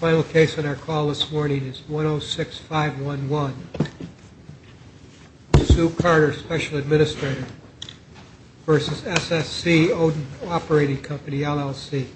Final case on our call this morning is 106511. Sue Carter, Special Administrator v. SSC Odin Operating Co., LLC.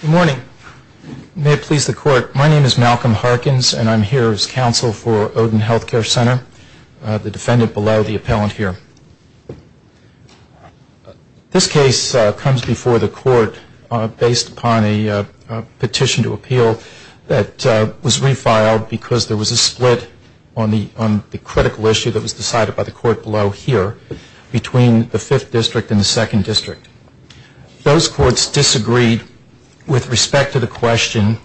Good morning. May it please the court, my name is Malcolm Harkins and I'm here as counsel for Odin Health Care Center, the defendant below the appellant here. This case comes before the court based upon a petition to appeal that was refiled because there was a split on the critical issue that was decided by the court below here between the 5th District and the 2nd District. Those courts disagreed with respect to the question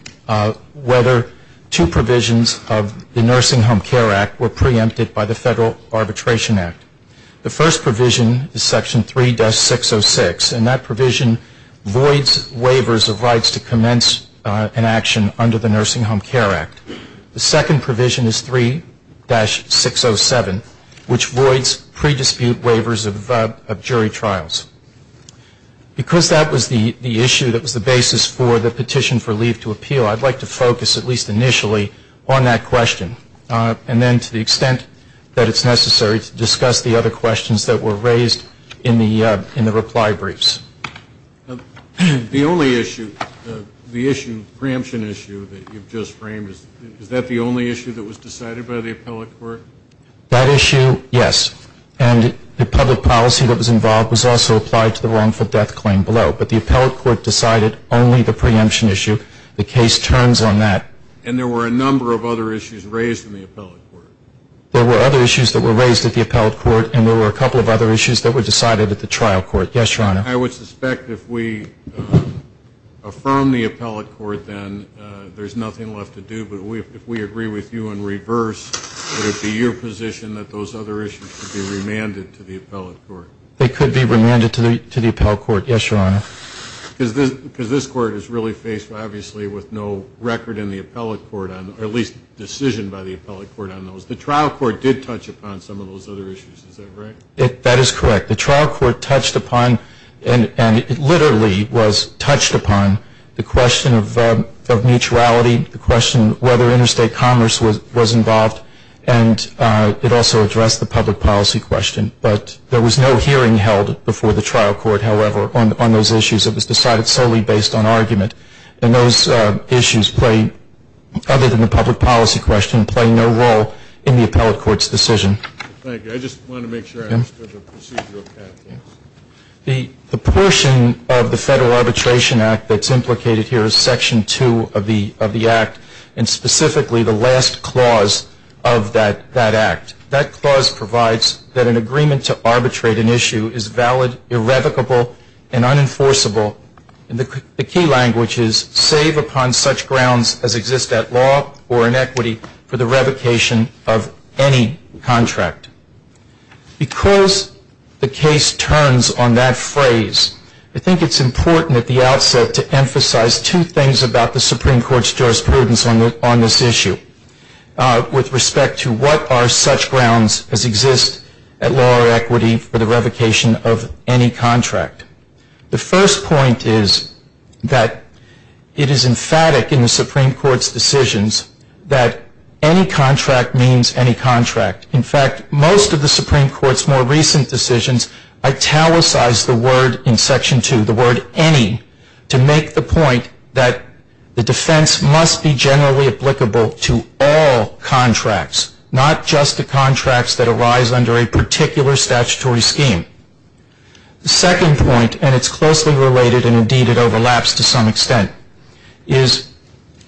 whether two provisions of the Nursing Home Care Act were preempted by the Federal Arbitration Act. The first provision is section 3-606 and that provision voids waivers of rights to commence an action under the Nursing Home Care Act. The second provision is 3-607 which voids pre-dispute waivers of jury trials. Because that was the issue that was the basis for the petition for leave to appeal, I'd like to focus at least initially on that question. And then to the extent that it's necessary to discuss the other questions that were raised in the reply briefs. The only issue, the issue, preemption issue that you've just framed, is that the only issue that was decided by the appellate court? That issue, yes. And the public policy that was involved was also applied to the wrongful death claim below. But the appellate court decided only the preemption issue. The case turns on that. And there were a number of other issues raised in the appellate court. There were other issues that were raised at the appellate court and there were a couple of other issues that were decided at the trial court. Yes, Your Honor. I would suspect if we affirm the appellate court then there's nothing left to do. But if we agree with you in reverse, would it be your position that those other issues should be remanded to the appellate court? They could be remanded to the appellate court. Yes, Your Honor. Because this court is really faced, obviously, with no record in the appellate court, or at least decision by the appellate court on those. The trial court did touch upon some of those other issues. Is that right? That is correct. The trial court touched upon, and it literally was touched upon, the question of mutuality, the question whether interstate commerce was involved, and it also addressed the public policy question. But there was no hearing held before the trial court, however, on those issues. It was decided solely based on argument. And those issues, other than the public policy question, play no role in the appellate court's decision. Thank you. I just wanted to make sure I understood the procedural path. The portion of the Federal Arbitration Act that's implicated here is Section 2 of the Act, and specifically the last clause of that act. That clause provides that an agreement to arbitrate an issue is valid, irrevocable, and unenforceable. The key language is, save upon such grounds as exist at law or in equity for the revocation of any contract. Because the case turns on that phrase, I think it's important at the outset to emphasize two things about the Supreme Court's jurisprudence on this issue with respect to what are such grounds as exist at law or equity for the revocation of any contract. The first point is that it is emphatic in the Supreme Court's decisions that any contract means any contract. In fact, most of the Supreme Court's more recent decisions italicized the word in Section 2, the word any, to make the point that the defense must be generally applicable to all contracts, not just the contracts that arise under a particular statutory scheme. The second point, and it's closely related and indeed it overlaps to some extent, is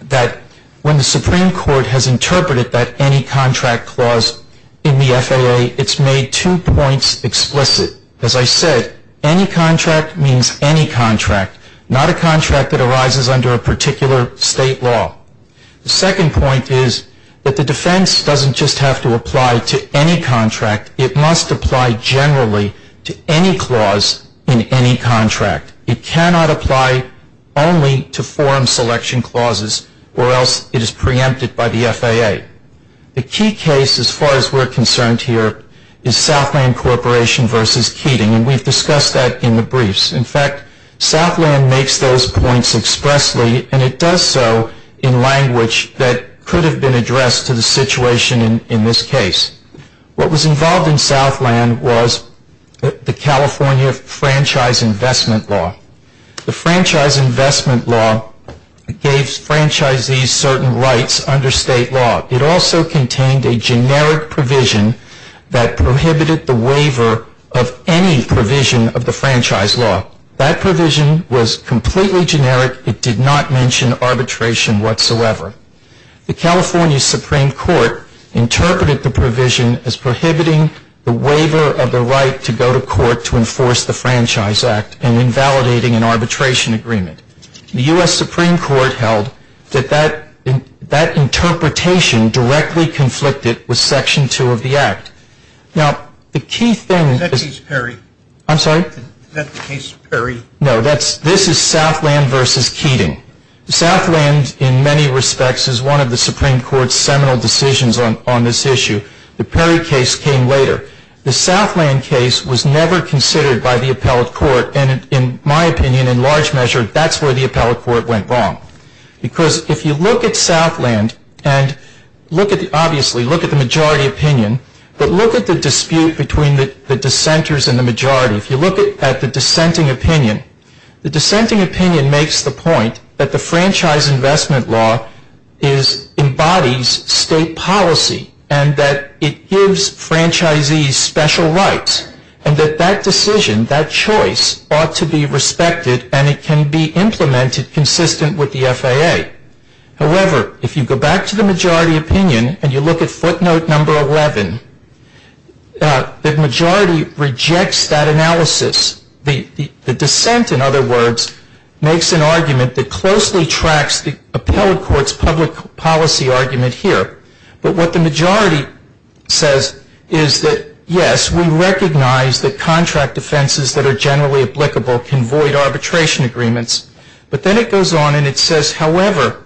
that when the Supreme Court has interpreted that any contract clause in the FAA, it's made two points explicit. As I said, any contract means any contract, not a contract that arises under a particular state law. The second point is that the defense doesn't just have to apply to any contract. It must apply generally to any clause in any contract. It cannot apply only to forum selection clauses or else it is preempted by the FAA. The key case, as far as we're concerned here, is Southland Corporation v. Keating, and we've discussed that in the briefs. In fact, Southland makes those points expressly, and it does so in language that could have been addressed to the situation in this case. What was involved in Southland was the California Franchise Investment Law. The Franchise Investment Law gave franchisees certain rights under state law. It also contained a generic provision that prohibited the waiver of any provision of the franchise law. That provision was completely generic. It did not mention arbitration whatsoever. The California Supreme Court interpreted the provision as prohibiting the waiver of the right to go to court to enforce the Franchise Act and invalidating an arbitration agreement. The U.S. Supreme Court held that that interpretation directly conflicted with Section 2 of the Act. Now, the key thing... Is that case Perry? I'm sorry? Is that the case Perry? No, this is Southland v. Keating. Southland, in many respects, is one of the Supreme Court's seminal decisions on this issue. The Perry case came later. The Southland case was never considered by the appellate court. In my opinion, in large measure, that's where the appellate court went wrong. Because if you look at Southland, and obviously look at the majority opinion, but look at the dispute between the dissenters and the majority. If you look at the dissenting opinion, the dissenting opinion makes the point that the franchise investment law embodies state policy and that it gives franchisees special rights and that that decision, that choice, ought to be respected and it can be implemented consistent with the FAA. However, if you go back to the majority opinion and you look at footnote number 11, the majority rejects that analysis. The dissent, in other words, makes an argument that closely tracks the appellate court's public policy argument here. But what the majority says is that, yes, we recognize that contract offenses that are generally applicable can void arbitration agreements. But then it goes on and it says, however,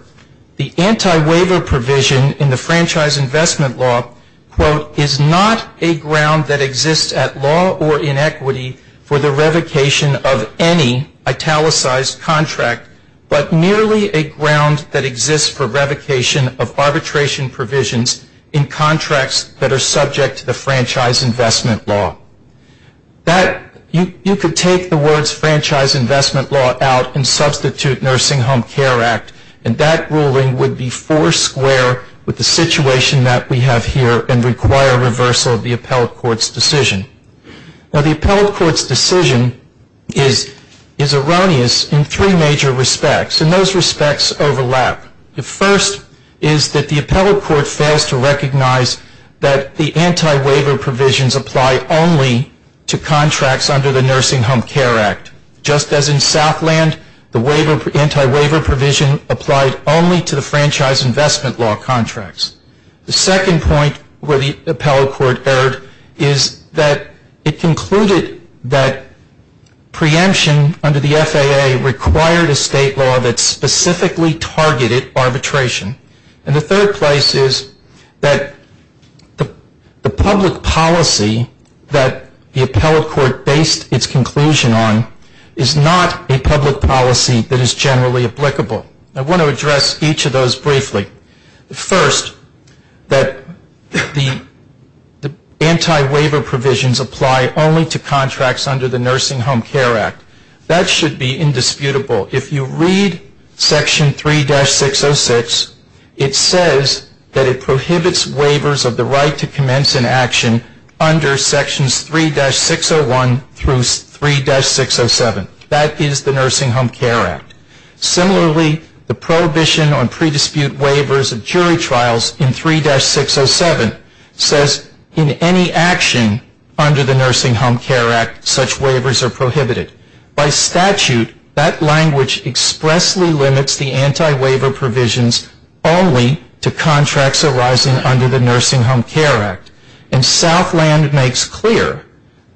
the anti-waiver provision in the franchise investment law, quote, is not a ground that exists at law or in equity for the revocation of any italicized contract, but merely a ground that exists for revocation of arbitration provisions in contracts that are subject to the franchise investment law. You could take the words franchise investment law out and substitute nursing home care act, and that ruling would be four square with the situation that we have here and require reversal of the appellate court's decision. Now, the appellate court's decision is erroneous in three major respects. And those respects overlap. The first is that the appellate court fails to recognize that the anti-waiver provisions apply only to contracts under the Nursing Home Care Act. Just as in Southland, the anti-waiver provision applied only to the franchise investment law contracts. The second point where the appellate court erred is that it concluded that preemption under the FAA required a state law that specifically targeted arbitration. And the third place is that the public policy that the appellate court based its conclusion on is not a public policy that is generally applicable. I want to address each of those briefly. First, that the anti-waiver provisions apply only to contracts under the Nursing Home Care Act. That should be indisputable. If you read Section 3-606, it says that it prohibits waivers of the right to commence an action under Sections 3-601 through 3-607. That is the Nursing Home Care Act. Similarly, the prohibition on predispute waivers of jury trials in 3-607 says in any action under the Nursing Home Care Act, such waivers are prohibited. By statute, that language expressly limits the anti-waiver provisions only to contracts arising under the Nursing Home Care Act. And Southland makes clear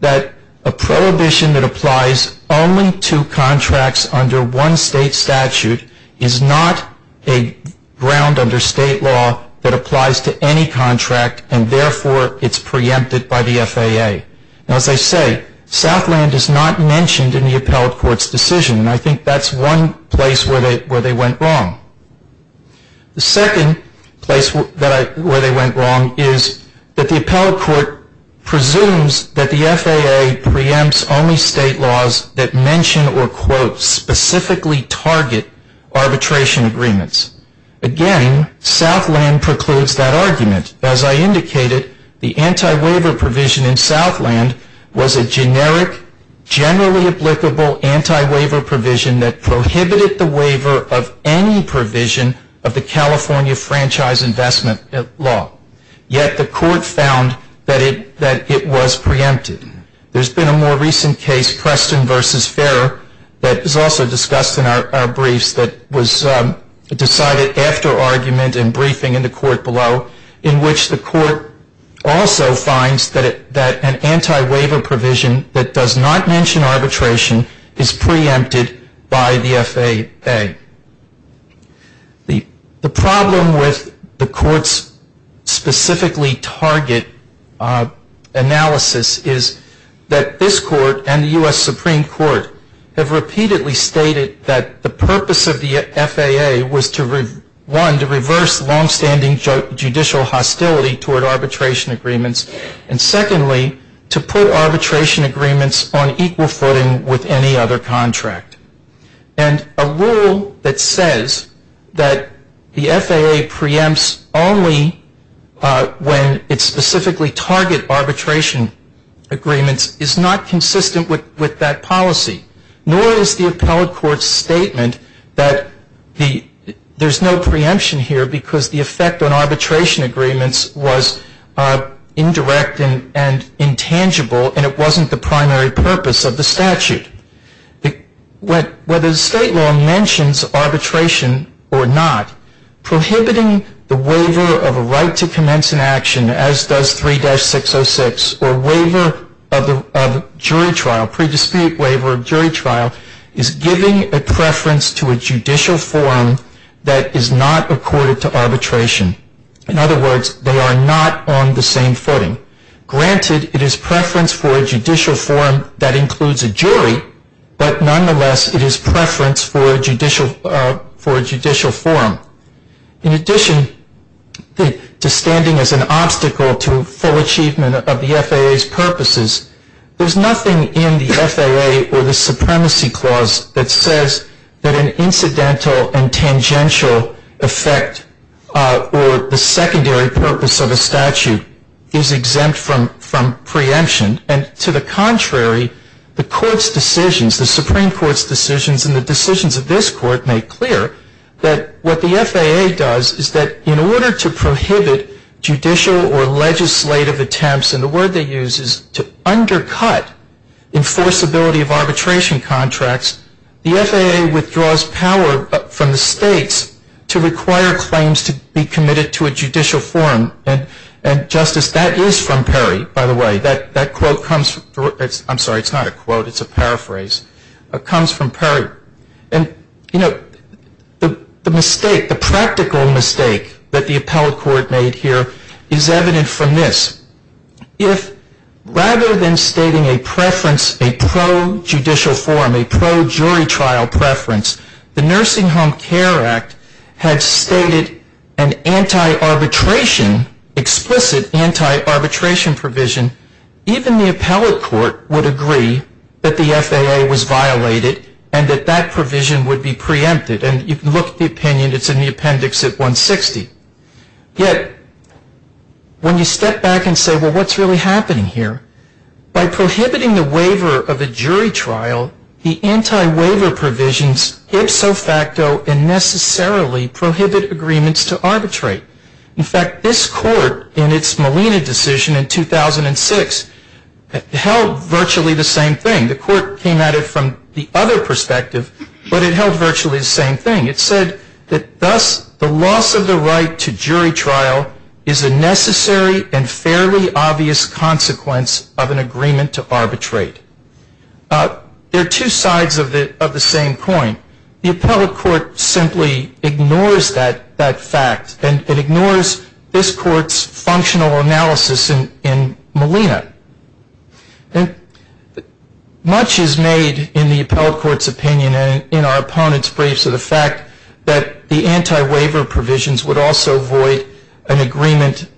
that a prohibition that applies only to contracts under one state statute is not a ground under state law that applies to any contract and, therefore, it's preempted by the FAA. Now, as I say, Southland is not mentioned in the Appellate Court's decision. And I think that's one place where they went wrong. The second place where they went wrong is that the Appellate Court presumes that the FAA preempts only state laws that mention or, quote, specifically target arbitration agreements. Again, Southland precludes that argument. As I indicated, the anti-waiver provision in Southland was a generic, generally applicable anti-waiver provision that prohibited the waiver of any provision of the California Franchise Investment Law. Yet the Court found that it was preempted. There's been a more recent case, Preston v. Ferrer, that was also discussed in our briefs that was decided after our argument and briefing in the Court below, in which the Court also finds that an anti-waiver provision that does not mention arbitration is preempted by the FAA. The problem with the Court's specifically target analysis is that this Court and the U.S. Supreme Court have longstanding judicial hostility toward arbitration agreements, and secondly, to put arbitration agreements on equal footing with any other contract. And a rule that says that the FAA preempts only when it specifically target arbitration agreements is not consistent with that policy. Nor is the appellate court's statement that there's no preemption here because the effect on arbitration agreements was indirect and intangible, and it wasn't the primary purpose of the statute. Whether the state law mentions arbitration or not, prohibiting the waiver of a right to commence an action, as does 3-606, or waiver of jury trial, pre-dispute waiver of jury trial, is giving a preference to a judicial forum that is not accorded to arbitration. In other words, they are not on the same footing. Granted, it is preference for a judicial forum that includes a jury, but nonetheless, it is preference for a judicial forum. In addition to standing as an obstacle to full achievement of the FAA's purposes, there's nothing in the FAA or the Supremacy Clause that says that an incidental and tangential effect or the secondary purpose of a statute is exempt from preemption. And to the contrary, the court's decisions, the Supreme Court's decisions, and the decisions of this Court make clear that what the FAA does is that in order to prohibit judicial or legislative attempts, and the word they use is to undercut enforceability of arbitration contracts, the FAA withdraws power from the states to require claims to be committed to a judicial forum. And, Justice, that is from Perry, by the way. That quote comes from, I'm sorry, it's not a quote. It's a paraphrase. It comes from Perry. And, you know, the mistake, the practical mistake that the appellate court made here is evident from this. If rather than stating a preference, a pro-judicial forum, a pro-jury trial preference, the Nursing Home Care Act had stated an anti-arbitration, explicit anti-arbitration provision, even the appellate court would agree that the FAA was violated and that that provision would be preempted. And you can look at the opinion. It's in the appendix at 160. Yet when you step back and say, well, what's really happening here? By prohibiting the waiver of a jury trial, the anti-waiver provisions ipso facto and necessarily prohibit agreements to arbitrate. In fact, this court in its Molina decision in 2006 held virtually the same thing. The court came at it from the other perspective, but it held virtually the same thing. It said that thus the loss of the right to jury trial is a necessary and fairly obvious consequence of an agreement to arbitrate. There are two sides of the same coin. The appellate court simply ignores that fact, and it ignores this court's functional analysis in Molina. Much is made in the appellate court's opinion and in our opponent's briefs of the fact that the anti-waiver provisions would also void an agreement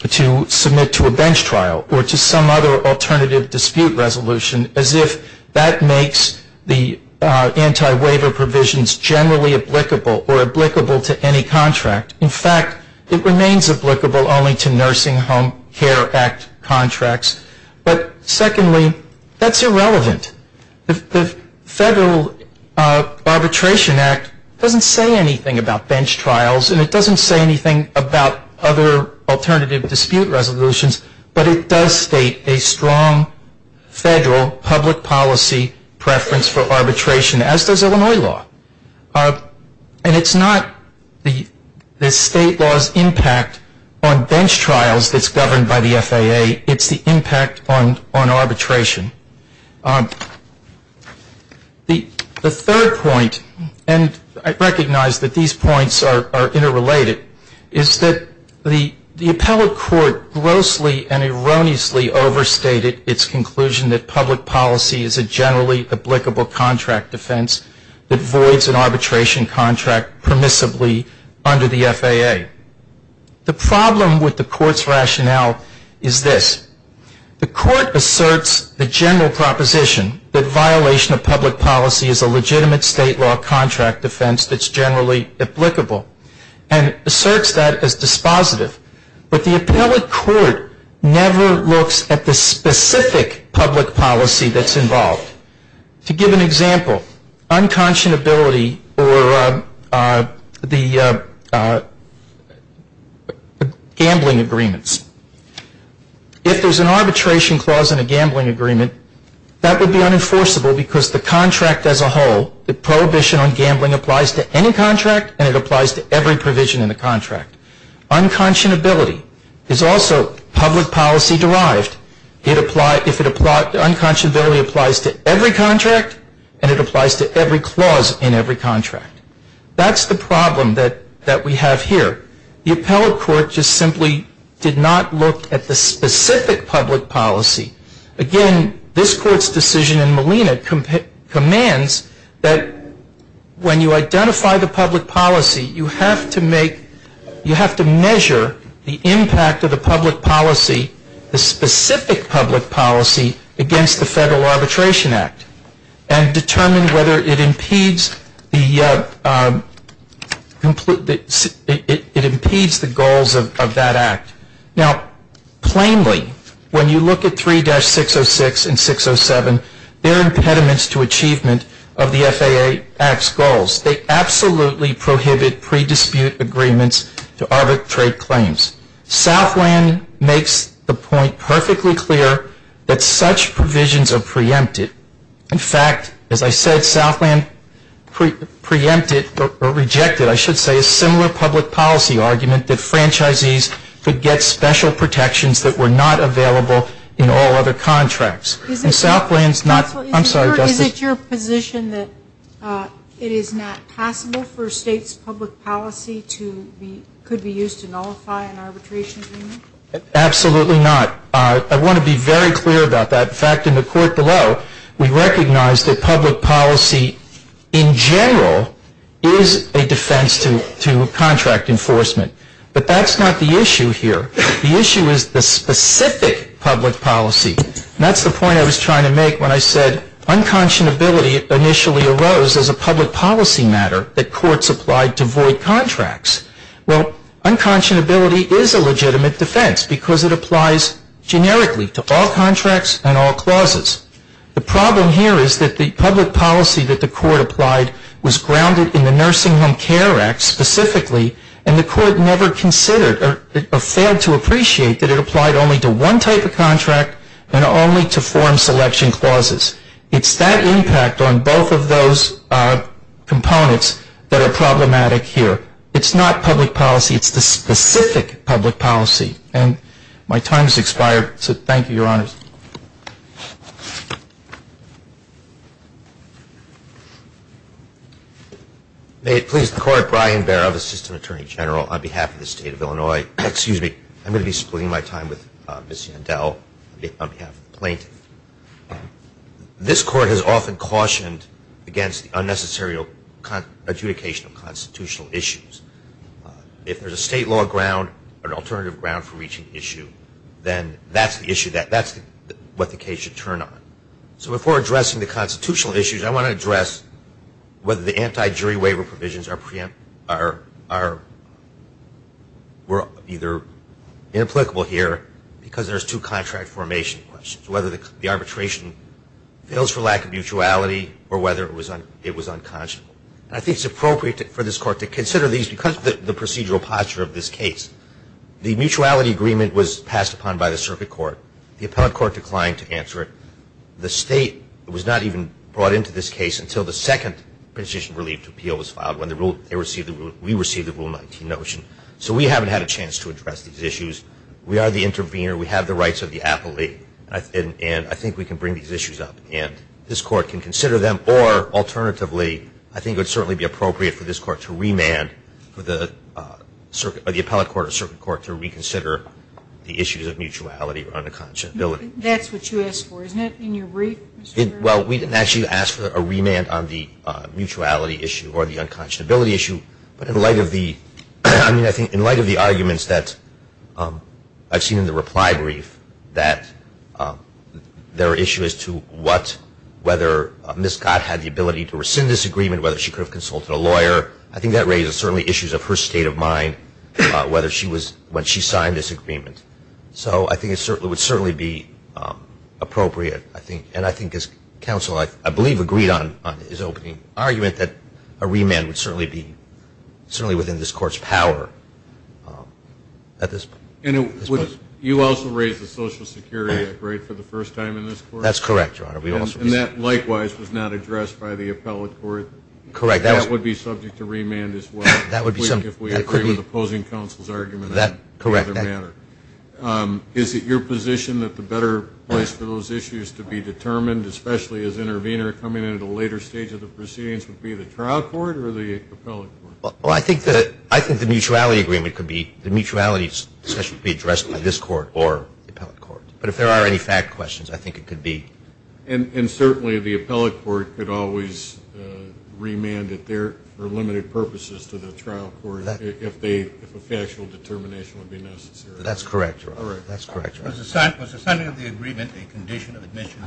to submit to a bench trial or to some other alternative dispute resolution as if that makes the anti-waiver provisions generally applicable or applicable to any contract. In fact, it remains applicable only to Nursing Home Care Act contracts. But secondly, that's irrelevant. The Federal Arbitration Act doesn't say anything about bench trials, and it doesn't say anything about other alternative dispute resolutions, but it does state a strong federal public policy preference for arbitration, as does Illinois law. And it's not the state law's impact on bench trials that's governed by the FAA. It's the impact on arbitration. The third point, and I recognize that these points are interrelated, is that the appellate court grossly and erroneously overstated its conclusion that public policy is a generally applicable contract defense that voids an arbitration contract permissibly under the FAA. The problem with the court's rationale is this. The court asserts the general proposition that violation of public policy is a legitimate state law contract defense that's generally applicable and asserts that as dispositive. But the appellate court never looks at the specific public policy that's involved. To give an example, unconscionability or the gambling agreements. If there's an arbitration clause in a gambling agreement, that would be unenforceable because the contract as a whole, the prohibition on gambling applies to any contract, and it applies to every provision in the contract. Unconscionability is also public policy derived. If it applies, unconscionability applies to every contract, and it applies to every clause in every contract. That's the problem that we have here. The appellate court just simply did not look at the specific public policy. Again, this court's decision in Molina commands that when you identify the public policy, you have to measure the impact of the public policy, the specific public policy, against the Federal Arbitration Act and determine whether it impedes the goals of that act. Now, plainly, when you look at 3-606 and 607, they're impediments to achievement of the FAA Act's goals. They absolutely prohibit pre-dispute agreements to arbitrate claims. Southland makes the point perfectly clear that such provisions are preempted. In fact, as I said, Southland preempted or rejected, I should say, a similar public policy argument that franchisees could get special protections that were not available in all other contracts. Is it your position that it is not possible for states' public policy to be used to nullify an arbitration agreement? Absolutely not. I want to be very clear about that. In fact, in the court below, we recognize that public policy in general is a defense to contract enforcement. But that's not the issue here. The issue is the specific public policy. And that's the point I was trying to make when I said unconscionability initially arose as a public policy matter that courts applied to void contracts. Well, unconscionability is a legitimate defense because it applies generically to all contracts and all clauses. The problem here is that the public policy that the court applied was grounded in the Nursing Home Care Act specifically, and the court never considered or failed to appreciate that it applied only to one type of contract and only to form selection clauses. It's that impact on both of those components that are problematic here. It's not public policy. It's the specific public policy. And my time has expired, so thank you, Your Honors. May it please the Court, Brian Barrett, Assistant Attorney General on behalf of the State of Illinois. Excuse me. I'm going to be splitting my time with Ms. Yandel on behalf of the plaintiff. This Court has often cautioned against the unnecessary adjudication of constitutional issues. If there's a state law ground or an alternative ground for reaching the issue, that's what the case should turn on. So before addressing the constitutional issues, I want to address whether the anti-jury waiver provisions are either inapplicable here because there's two contract formation questions, whether the arbitration fails for lack of mutuality or whether it was unconscionable. And I think it's appropriate for this Court to consider these because of the procedural posture of this case. The mutuality agreement was passed upon by the circuit court. The appellate court declined to answer it. The state was not even brought into this case until the second petition relief to appeal was filed, when we received the Rule 19 notion. So we haven't had a chance to address these issues. We are the intervener. We have the rights of the appellate, and I think we can bring these issues up, and this Court can consider them. Or alternatively, I think it would certainly be appropriate for this Court to remand for the appellate court or circuit court to reconsider the issues of mutuality or unconscionability. That's what you asked for, isn't it, in your brief? Well, we didn't actually ask for a remand on the mutuality issue or the unconscionability issue, but in light of the arguments that I've seen in the reply brief, that there are issues to what whether Ms. Gott had the ability to rescind this agreement, whether she could have consulted a lawyer. I think that raises certainly issues of her state of mind when she signed this agreement. So I think it would certainly be appropriate. And I think as counsel, I believe, agreed on his opening argument that a remand would certainly be within this Court's power at this point. And you also raised the Social Security Act, right, for the first time in this Court? That's correct, Your Honor. And that likewise was not addressed by the appellate court? Correct. And that would be subject to remand as well if we agree with opposing counsel's argument? Correct. Is it your position that the better place for those issues to be determined, especially as intervener coming in at a later stage of the proceedings, would be the trial court or the appellate court? Well, I think the mutuality agreement could be the mutuality discussion to be addressed by this court or the appellate court. But if there are any fact questions, I think it could be. And certainly the appellate court could always remand it there for limited purposes to the trial court if a factual determination would be necessary. That's correct, Your Honor. That's correct, Your Honor. Was the signing of the agreement a condition of admission?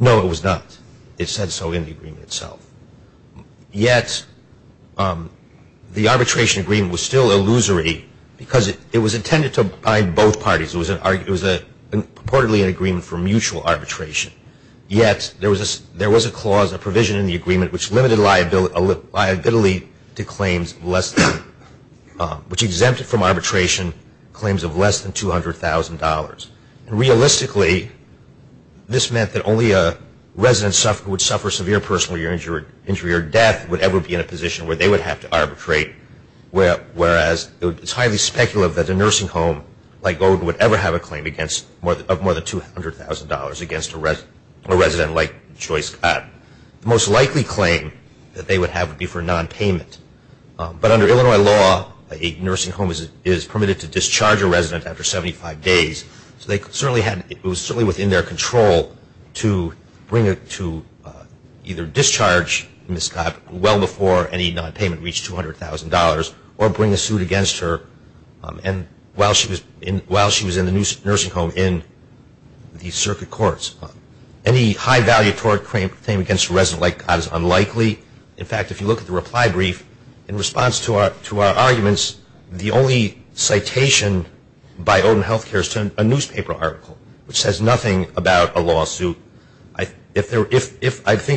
No, it was not. It said so in the agreement itself. Yet the arbitration agreement was still illusory because it was intended to abide both parties. It was purportedly an agreement for mutual arbitration. Yet there was a clause, a provision in the agreement, which exempted from arbitration claims of less than $200,000. Realistically, this meant that only a resident who would suffer severe personal injury or death would ever be in a position where they would have to arbitrate, whereas it's highly speculative that a nursing home like Golden would ever have a claim of more than $200,000 against a resident like Joyce Scott. The most likely claim that they would have would be for a nonpayment. But under Illinois law, a nursing home is permitted to discharge a resident after 75 days. So it was certainly within their control to either discharge Miss Scott well before any nonpayment reached $200,000 or bring a suit against her while she was in the nursing home in the circuit courts. Any high-valuatory claim against a resident like that is unlikely. In fact, if you look at the reply brief, in response to our arguments, the only citation by Odin Healthcare is to a newspaper article, which says nothing about a lawsuit. I think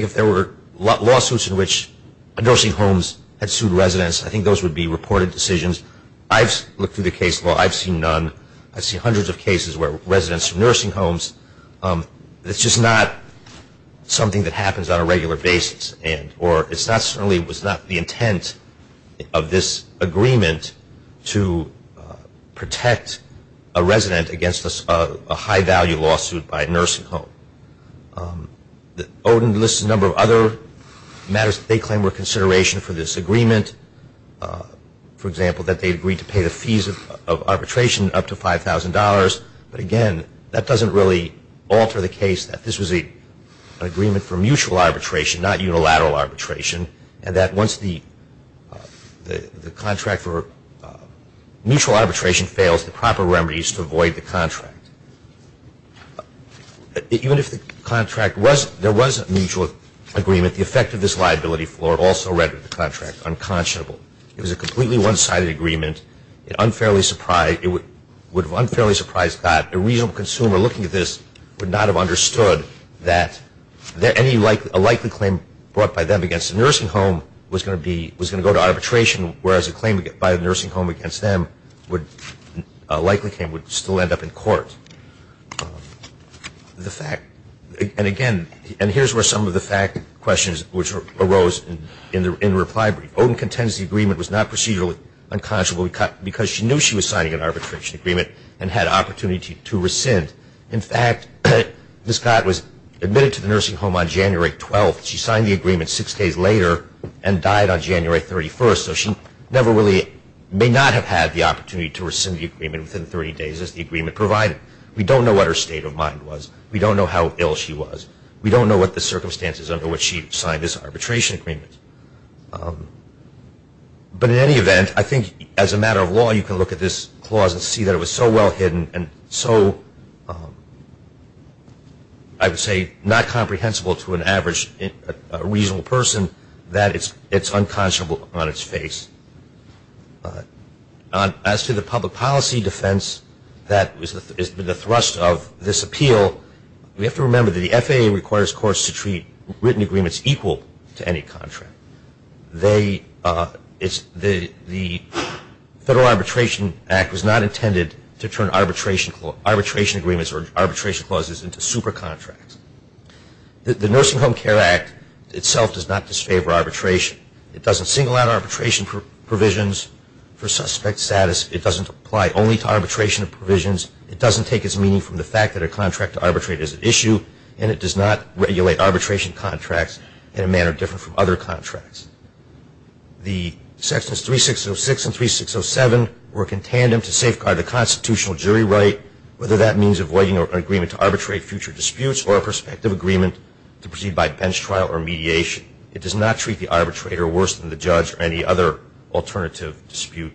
if there were lawsuits in which nursing homes had sued residents, I think those would be reported decisions. I've looked through the case law. I've seen none. I've seen hundreds of cases where residents of nursing homes, it's just not something that happens on a regular basis or it certainly was not the intent of this agreement to protect a resident against a high-value lawsuit by a nursing home. Odin lists a number of other matters that they claim were consideration for this agreement. For example, that they agreed to pay the fees of arbitration up to $5,000. But again, that doesn't really alter the case that this was an agreement for mutual arbitration, not unilateral arbitration, and that once the contract for mutual arbitration fails, the proper remedies to avoid the contract. Even if the contract was, there was a mutual agreement, the effect of this liability floor also read with the contract unconscionable. It was a completely one-sided agreement. It unfairly surprised, it would have unfairly surprised God. A reasonable consumer looking at this would not have understood that a likely claim brought by them against a nursing home was going to go to arbitration, whereas a claim by a nursing home against them would likely still end up in court. The fact, and again, and here's where some of the fact questions arose in the reply brief. Odin contends the agreement was not procedurally unconscionable because she knew she was signing an arbitration agreement and had opportunity to rescind. In fact, Ms. Scott was admitted to the nursing home on January 12th. She signed the agreement six days later and died on January 31st, so she never really may not have had the opportunity to rescind the agreement within 30 days as the agreement provided. We don't know what her state of mind was. We don't know how ill she was. We don't know what the circumstances under which she signed this arbitration agreement. But in any event, I think as a matter of law, you can look at this clause and see that it was so well hidden and so, I would say, not comprehensible to an average reasonable person that it's unconscionable on its face. As to the public policy defense that is the thrust of this appeal, we have to remember that the FAA requires courts to treat written agreements equal to any contract. The Federal Arbitration Act was not intended to turn arbitration agreements or arbitration clauses into super contracts. The Nursing Home Care Act itself does not disfavor arbitration. It doesn't single out arbitration provisions for suspect status. It doesn't apply only to arbitration provisions. It doesn't take its meaning from the fact that a contract to arbitrate is an issue, and it does not regulate arbitration contracts in a manner different from other contracts. The sections 3606 and 3607 work in tandem to safeguard the constitutional jury right, whether that means avoiding an agreement to arbitrate future disputes or a prospective agreement to proceed by bench trial or mediation. It does not treat the arbitrator worse than the judge or any other alternative dispute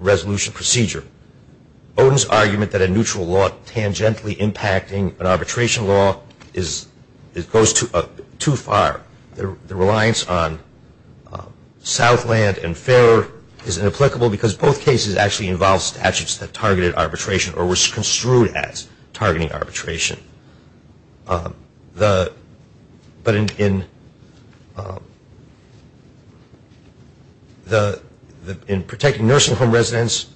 resolution procedure. Bowdoin's argument that a neutral law tangentially impacting an arbitration law goes too far. The reliance on Southland and Farrer is inapplicable because both cases actually involve statutes that targeted arbitration or were construed as targeting arbitration. But in protecting nursing home residents,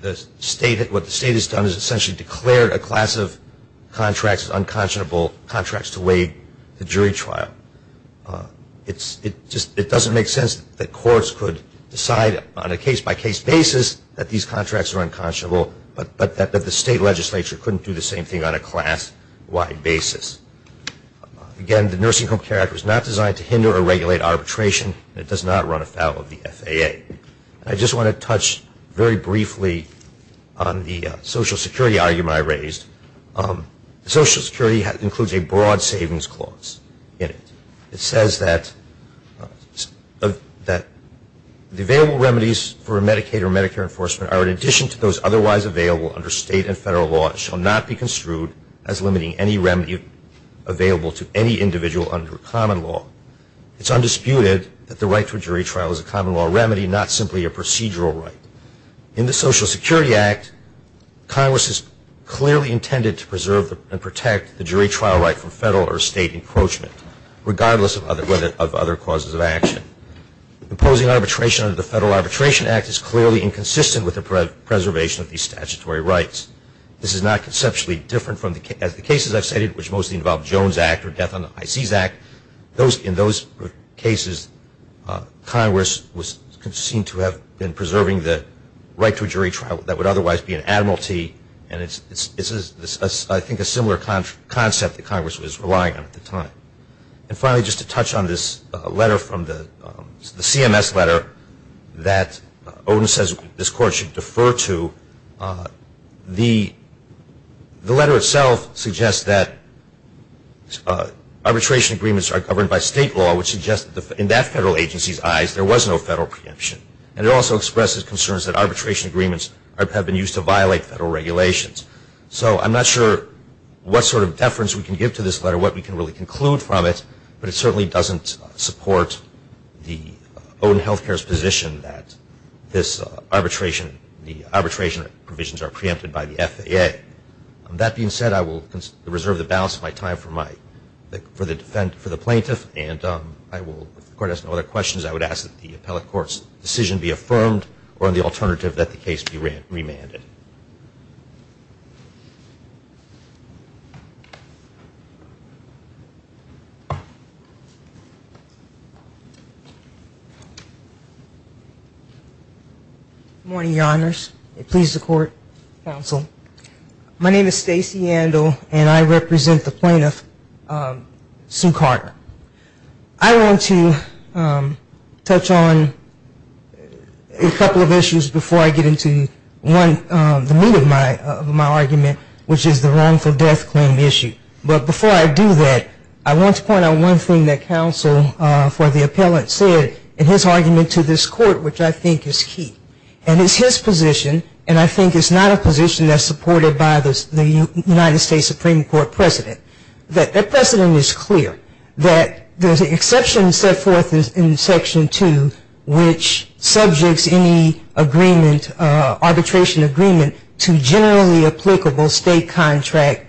what the state has done is essentially declared a class of contracts as unconscionable contracts to waive the jury trial. It doesn't make sense that courts could decide on a case-by-case basis that these contracts are unconscionable, but that the state legislature couldn't do the same thing on a class-wide basis. Again, the Nursing Home Care Act was not designed to hinder or regulate arbitration, and it does not run afoul of the FAA. I just want to touch very briefly on the Social Security argument I raised. Social Security includes a broad savings clause in it. It says that the available remedies for Medicaid or Medicare enforcement are, in addition to those otherwise available under state and federal law, shall not be construed as limiting any remedy available to any individual under common law. It's undisputed that the right to a jury trial is a common law remedy, not simply a procedural right. In the Social Security Act, Congress is clearly intended to preserve and protect the jury trial right from federal or state encroachment, regardless of other causes of action. Imposing arbitration under the Federal Arbitration Act is clearly inconsistent with the preservation of these statutory rights. This is not conceptually different from the cases I've stated, which mostly involve the Jones Act or the Death on the High Seas Act. In those cases, Congress was seen to have been preserving the right to a jury trial that would otherwise be an admiralty, and it's, I think, a similar concept that Congress was relying on at the time. And finally, just to touch on this letter from the CMS letter that Odin says this Court should defer to, the letter itself suggests that arbitration agreements are governed by state law, which suggests that in that federal agency's eyes, there was no federal preemption. And it also expresses concerns that arbitration agreements have been used to violate federal regulations. So I'm not sure what sort of deference we can give to this letter, what we can really conclude from it, but it certainly doesn't support the Odin Health Care's position that this arbitration, the arbitration provisions are preempted by the FAA. That being said, I will reserve the balance of my time for the plaintiff, and I will, if the Court has no other questions, I would ask that the appellate court's decision be affirmed or, on the alternative, that the case be remanded. Good morning, Your Honors. It pleases the Court, Counsel. My name is Stacey Andel, and I represent the plaintiff, Sue Carter. I want to touch on a couple of issues before I get into the meat of my argument, which is the wrongful death claim issue. But before I do that, I want to point out one thing that counsel for the appellate said in his argument to this Court, which I think is key. And it's his position, and I think it's not a position that's supported by the United States Supreme Court president, that their precedent is clear, that the exception set forth in Section 2, which subjects any arbitration agreement to generally applicable state contract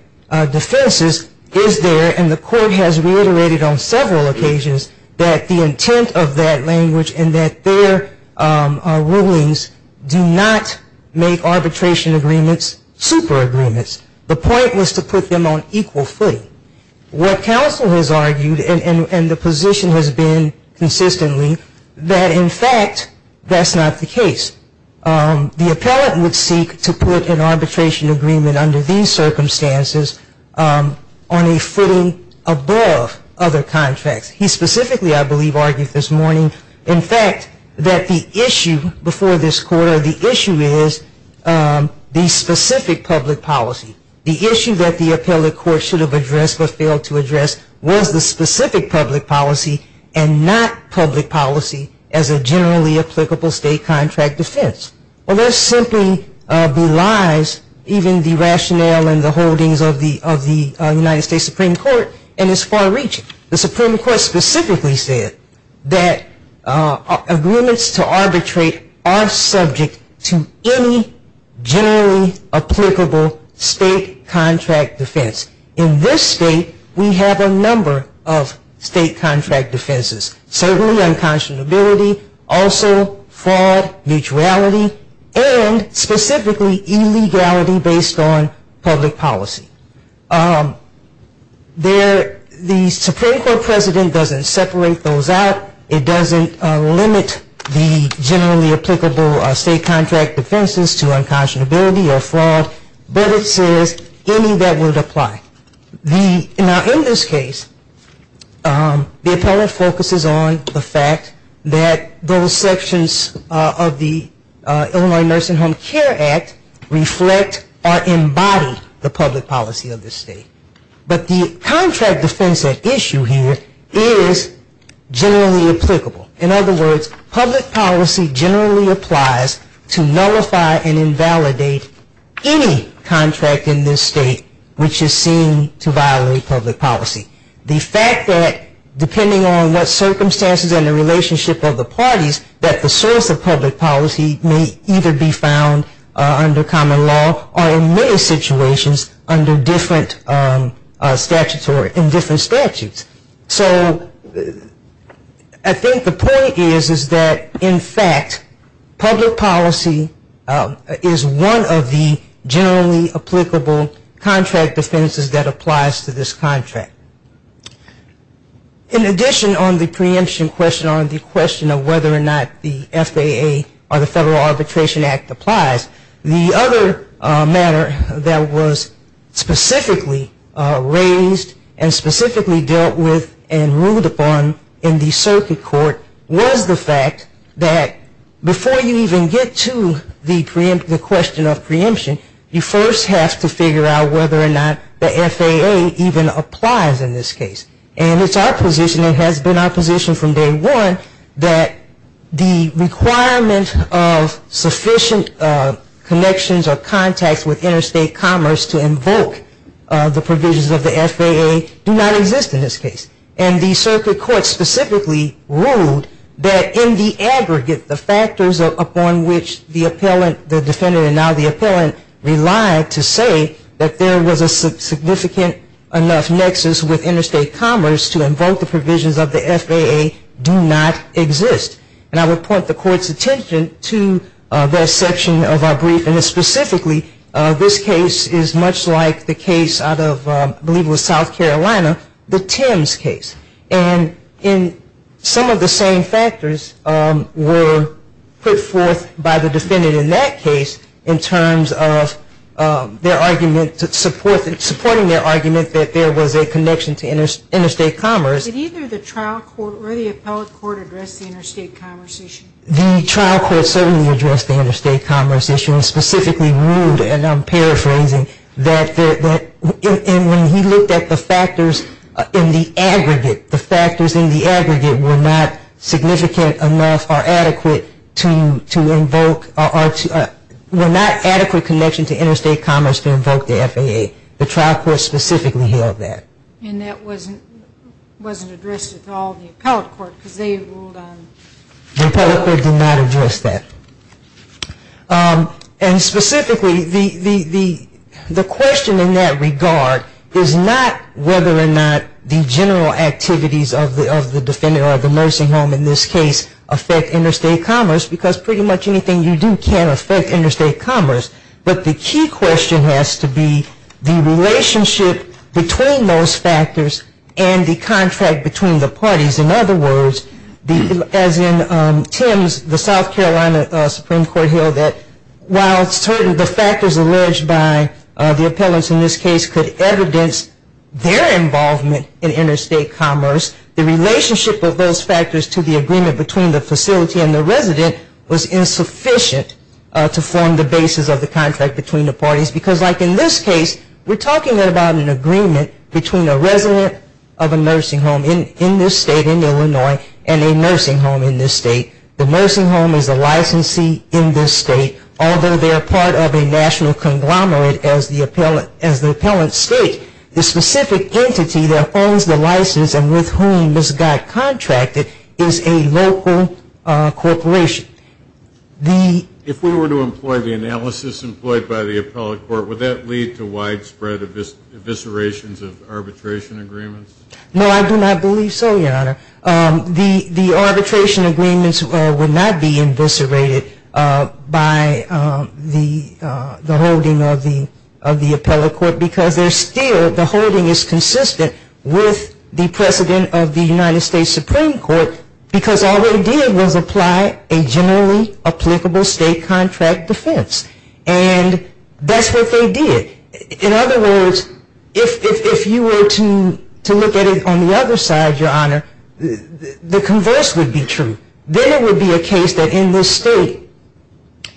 defenses, is there. And the Court has reiterated on several occasions that the intent of that language and that their rulings do not make arbitration agreements super agreements. The point was to put them on equal footing. What counsel has argued, and the position has been consistently, that, in fact, that's not the case. The appellate would seek to put an arbitration agreement under these circumstances on a footing above other contracts. He specifically, I believe, argued this morning, in fact, that the issue before this Court, or the issue is the specific public policy. The issue that the appellate court should have addressed but failed to address was the specific public policy and not public policy as a generally applicable state contract defense. Well, that simply belies even the rationale and the holdings of the United States Supreme Court, and it's far-reaching. The Supreme Court specifically said that agreements to arbitrate are subject to any generally applicable state contract defense. In this state, we have a number of state contract defenses, certainly unconscionability, also fraud, mutuality, and specifically illegality based on public policy. The Supreme Court precedent doesn't separate those out. It doesn't limit the generally applicable state contract defenses to unconscionability or fraud, but it says any that would apply. Now, in this case, the appellate focuses on the fact that those sections of the Illinois Nursing Home Care Act reflect or embody the public policy of this state. But the contract defense at issue here is generally applicable. In other words, public policy generally applies to nullify and invalidate any contract in this state which is seen to violate public policy. The fact that, depending on what circumstances and the relationship of the parties, that the source of public policy may either be found under common law or in many situations under different statutes. So I think the point is that, in fact, public policy is one of the generally applicable contract defenses that applies to this contract. In addition on the preemption question, on the question of whether or not the FAA or the Federal Arbitration Act applies, the other matter that was specifically raised and specifically dealt with and ruled upon in the circuit court was the fact that, before you even get to the question of preemption, you first have to figure out whether or not the FAA even applies in this case. And it's our position and has been our position from day one that the requirement of sufficient connections or contacts with interstate commerce to invoke the provisions of the FAA do not exist in this case. And the circuit court specifically ruled that, in the aggregate, the factors upon which the defendant and now the appellant relied to say that there was a significant enough nexus with interstate commerce to invoke the provisions of the FAA do not exist. And I would point the court's attention to that section of our brief. And specifically, this case is much like the case out of, I believe it was South Carolina, the Thames case. And some of the same factors were put forth by the defendant in that case in terms of their argument, supporting their argument, that there was a connection to interstate commerce. Did either the trial court or the appellate court address the interstate commerce issue? The trial court certainly addressed the interstate commerce issue and specifically ruled, and I'm paraphrasing, that when he looked at the factors in the aggregate, the factors in the aggregate were not significant enough or adequate to invoke or were not adequate connection to interstate commerce to invoke the FAA. The trial court specifically held that. And that wasn't addressed at all in the appellate court because they ruled on it. The appellate court did not address that. And specifically, the question in that regard is not whether or not the general activities of the defendant or the nursing home in this case affect interstate commerce because pretty much anything you do can affect interstate commerce. But the key question has to be the relationship between those factors and the contract between the parties. In other words, as in Thames, the South Carolina Supreme Court held that while the factors alleged by the appellants in this case could evidence their involvement in interstate commerce, the relationship of those factors to the agreement between the facility and the resident was insufficient to form the basis of the contract between the parties. Because like in this case, we're talking about an agreement between a resident of a nursing home in this state, in Illinois, and a nursing home in this state. The nursing home is a licensee in this state, although they are part of a national conglomerate as the appellant state. The specific entity that owns the license and with whom this got contracted is a local corporation. The ‑‑ If we were to employ the analysis employed by the appellate court, would that lead to widespread eviscerations of arbitration agreements? No, I do not believe so, Your Honor. The arbitration agreements would not be eviscerated by the holding of the appellate court because they're still, the holding is consistent with the precedent of the United States Supreme Court because all they did was apply a generally applicable state contract defense. And that's what they did. In other words, if you were to look at it on the other side, Your Honor, the converse would be true. Then it would be a case that in this state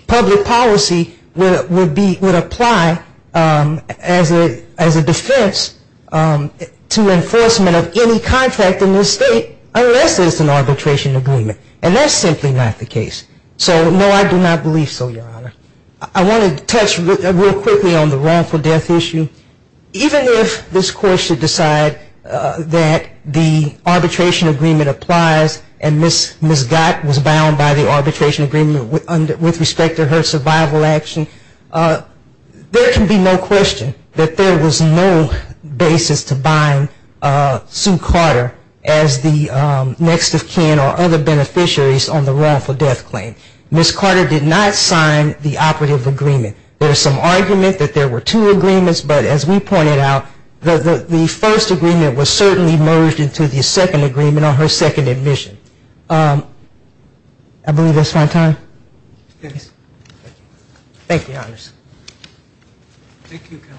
public policy would be, would apply as a defense to enforcement of any contract in this state unless it's an arbitration agreement. And that's simply not the case. So, no, I do not believe so, Your Honor. I want to touch real quickly on the wrongful death issue. Even if this court should decide that the arbitration agreement applies and Ms. Gott was bound by the arbitration agreement with respect to her survival action, there can be no question that there was no basis to buying Sue Carter as the next of kin or other beneficiaries on the wrongful death claim. Ms. Carter did not sign the operative agreement. There is some argument that there were two agreements, but as we pointed out, the first agreement was certainly merged into the second agreement on her second admission. I believe that's my time. Yes. Thank you, Your Honor. Thank you, Counselor.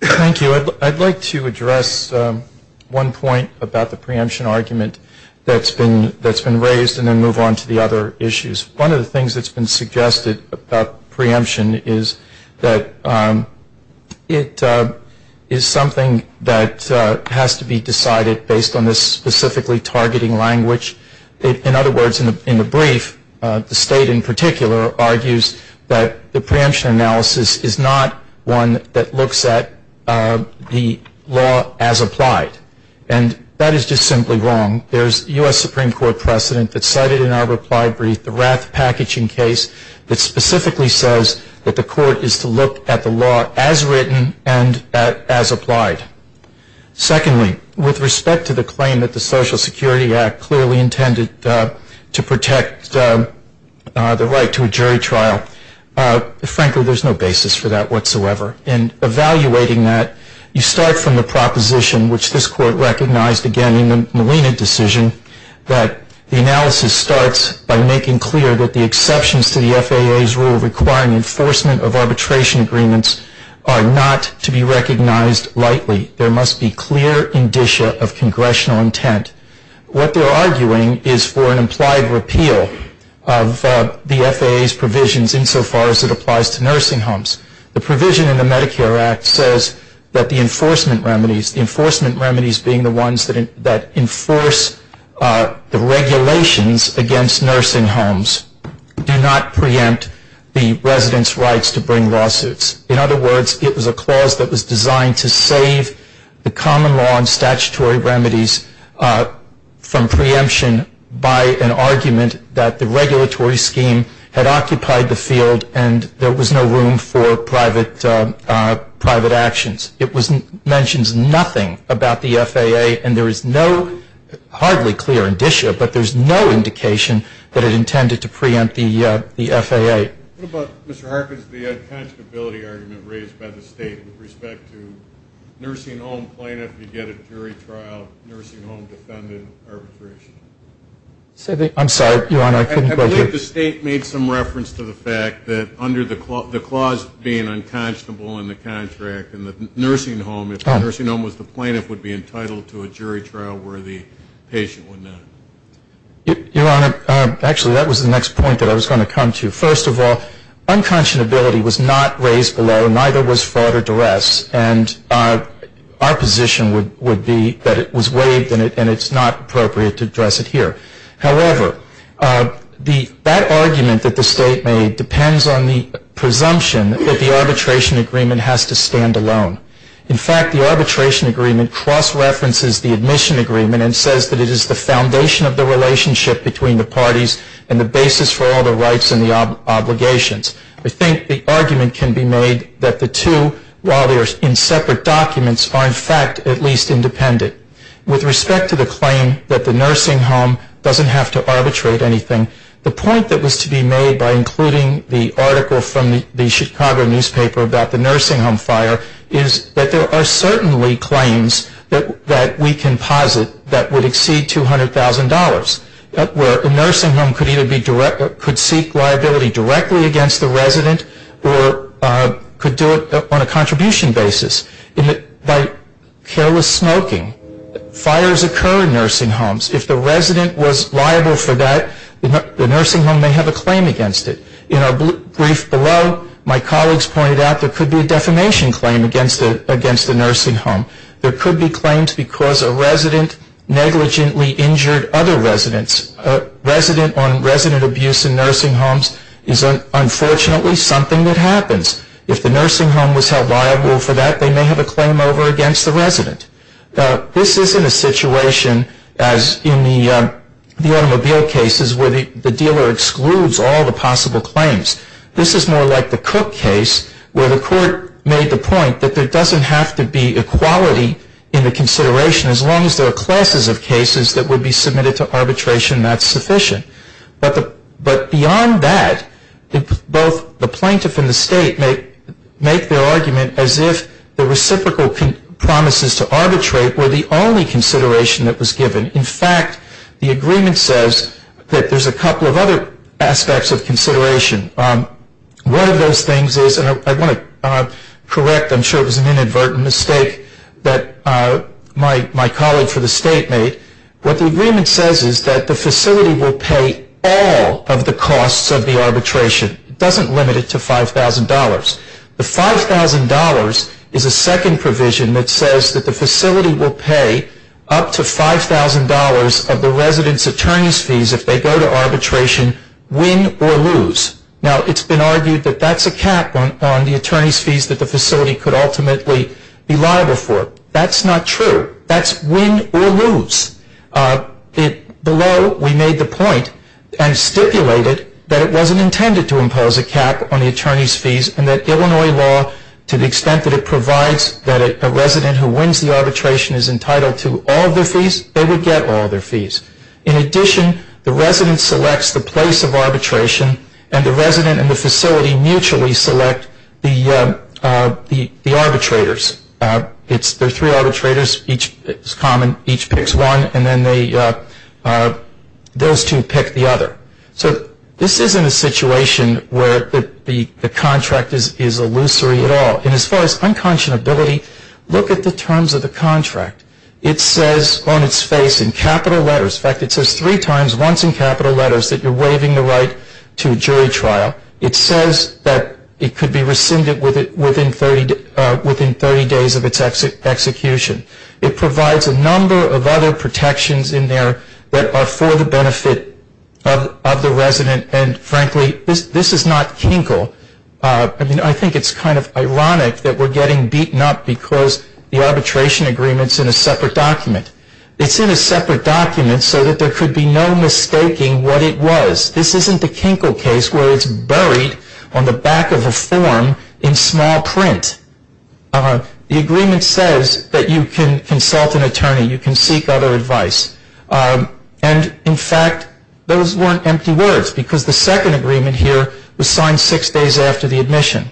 Thank you. I'd like to address one point about the preemption argument that's been raised and then move on to the other issues. One of the things that's been suggested about preemption is that it is something that has to be decided based on this specifically targeting language. In other words, in the brief, the State in particular argues that the preemption analysis is not one that looks at the law as applied. And that is just simply wrong. There's U.S. Supreme Court precedent that's cited in our reply brief, the Rath Packaging case, that specifically says that the court is to look at the law as written and as applied. Secondly, with respect to the claim that the Social Security Act clearly intended to protect the right to a jury trial, frankly, there's no basis for that whatsoever. In evaluating that, you start from the proposition, which this Court recognized again in the Molina decision, that the analysis starts by making clear that the exceptions to the FAA's rule requiring enforcement of arbitration agreements are not to be recognized lightly. There must be clear indicia of congressional intent. What they're arguing is for an implied repeal of the FAA's provisions insofar as it applies to nursing homes. The provision in the Medicare Act says that the enforcement remedies, the enforcement remedies being the ones that enforce the regulations against nursing homes, do not preempt the residents' rights to bring lawsuits. In other words, it was a clause that was designed to save the common law and statutory remedies from preemption by an argument that the regulatory scheme had occupied the field and there was no room for private actions. It mentions nothing about the FAA, and there is no hardly clear indicia, but there's no indication that it intended to preempt the FAA. What about, Mr. Harkins, the unconscionability argument raised by the State with respect to nursing home plaintiff, you get a jury trial, nursing home defendant arbitration? I'm sorry, Your Honor, I couldn't hear you. I believe the State made some reference to the fact that under the clause being unconscionable in the contract if the nursing home was the plaintiff would be entitled to a jury trial where the patient would not. Your Honor, actually that was the next point that I was going to come to. First of all, unconscionability was not raised below, neither was fraud or duress, and our position would be that it was waived and it's not appropriate to address it here. However, that argument that the State made depends on the presumption that the arbitration agreement has to stand alone. In fact, the arbitration agreement cross-references the admission agreement and says that it is the foundation of the relationship between the parties and the basis for all the rights and the obligations. I think the argument can be made that the two, while they are in separate documents, are in fact at least independent. With respect to the claim that the nursing home doesn't have to arbitrate anything, the point that was to be made by including the article from the Chicago newspaper about the nursing home fire is that there are certainly claims that we can posit that would exceed $200,000. A nursing home could seek liability directly against the resident or could do it on a contribution basis. By careless smoking, fires occur in nursing homes. If the resident was liable for that, the nursing home may have a claim against it. In our brief below, my colleagues pointed out there could be a defamation claim against the nursing home. There could be claims because a resident negligently injured other residents. A resident on resident abuse in nursing homes is unfortunately something that happens. If the nursing home was held liable for that, they may have a claim over against the resident. This isn't a situation as in the automobile cases where the dealer excludes all the possible claims. This is more like the Cook case where the court made the point that there doesn't have to be equality in the consideration as long as there are classes of cases that would be submitted to arbitration that's sufficient. But beyond that, both the plaintiff and the state make their argument as if the reciprocal promises to arbitrate were the only consideration that was given. In fact, the agreement says that there's a couple of other aspects of consideration. One of those things is, and I want to correct. I'm sure it was an inadvertent mistake that my colleague for the state made. What the agreement says is that the facility will pay all of the costs of the arbitration. It doesn't limit it to $5,000. The $5,000 is a second provision that says that the facility will pay up to $5,000 of the resident's attorney's fees if they go to arbitration, win or lose. Now, it's been argued that that's a cap on the attorney's fees that the facility could ultimately be liable for. That's not true. That's win or lose. Below, we made the point and stipulated that it wasn't intended to impose a cap on the attorney's fees and that Illinois law, to the extent that it provides that a resident who wins the arbitration is entitled to all of their fees, they would get all of their fees. In addition, the resident selects the place of arbitration and the resident and the facility mutually select the arbitrators. There are three arbitrators. Each is common. Each picks one and then those two pick the other. This isn't a situation where the contract is illusory at all. As far as unconscionability, look at the terms of the contract. It says on its face in capital letters, in fact it says three times once in capital letters that you're waiving the right to jury trial. It says that it could be rescinded within 30 days of its execution. It provides a number of other protections in there that are for the benefit of the resident and, frankly, this is not Kinkle. I think it's kind of ironic that we're getting beaten up because the arbitration agreement is in a separate document. It's in a separate document so that there could be no mistaking what it was. This isn't a Kinkle case where it's buried on the back of a form in small print. The agreement says that you can consult an attorney. You can seek other advice. In fact, those weren't empty words because the second agreement here was signed six days after the admission.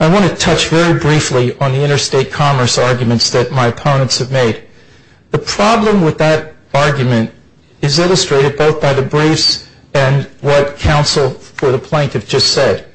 I want to touch very briefly on the interstate commerce arguments that my opponents have made. The problem with that argument is illustrated both by the briefs and what counsel for the plaintiff just said.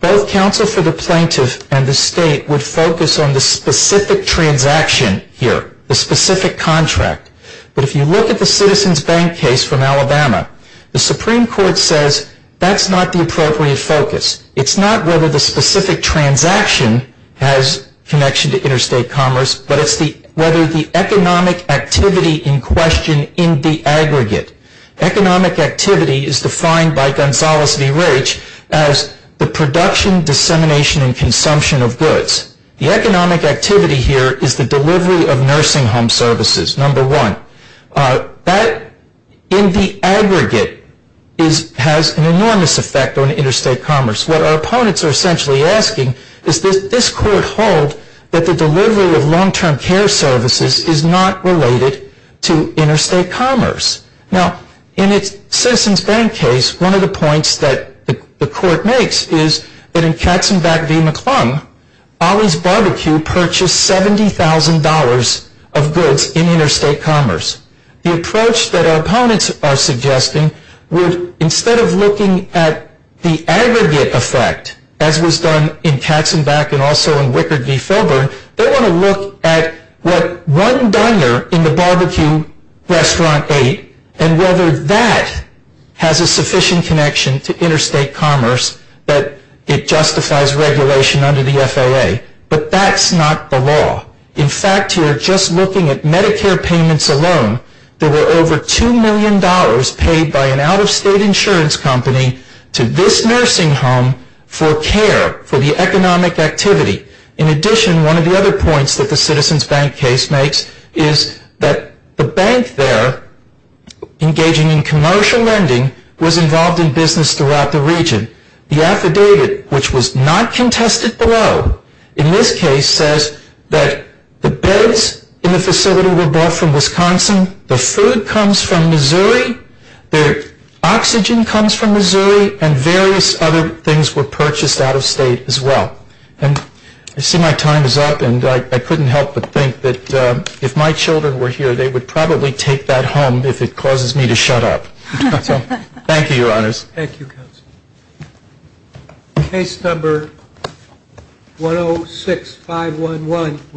Both counsel for the plaintiff and the state would focus on the specific transaction here, the specific contract, but if you look at the Citizens Bank case from Alabama, the Supreme Court says that's not the appropriate focus. It's not whether the specific transaction has connection to interstate commerce, but it's whether the economic activity in question in the aggregate, economic activity is defined by Gonzalez v. Raich as the production, dissemination, and consumption of goods. The economic activity here is the delivery of nursing home services, number one. That in the aggregate has an enormous effect on interstate commerce. What our opponents are essentially asking is that this court hold that the delivery of long-term care services is not related to interstate commerce. Now, in the Citizens Bank case, one of the points that the court makes is that in Katzenbach v. McClung, Ollie's Barbecue purchased $70,000 of goods in interstate commerce. The approach that our opponents are suggesting would, instead of looking at the aggregate effect, as was done in Katzenbach and also in Wickard v. Filburn, they want to look at what one diner in the barbecue restaurant ate and whether that has a sufficient connection to interstate commerce that it justifies regulation under the FAA. But that's not the law. In fact, here, just looking at Medicare payments alone, there were over $2 million paid by an out-of-state insurance company to this nursing home for care, for the economic activity. In addition, one of the other points that the Citizens Bank case makes is that the bank there, engaging in commercial lending, was involved in business throughout the region. The affidavit, which was not contested below, in this case says that the beds in the facility were bought from Wisconsin, the food comes from Missouri, the oxygen comes from Missouri, and various other things were purchased out-of-state as well. And I see my time is up, and I couldn't help but think that if my children were here, they would probably take that home if it causes me to shut up. So thank you, Your Honors. Thank you, Counsel. Case number 106511.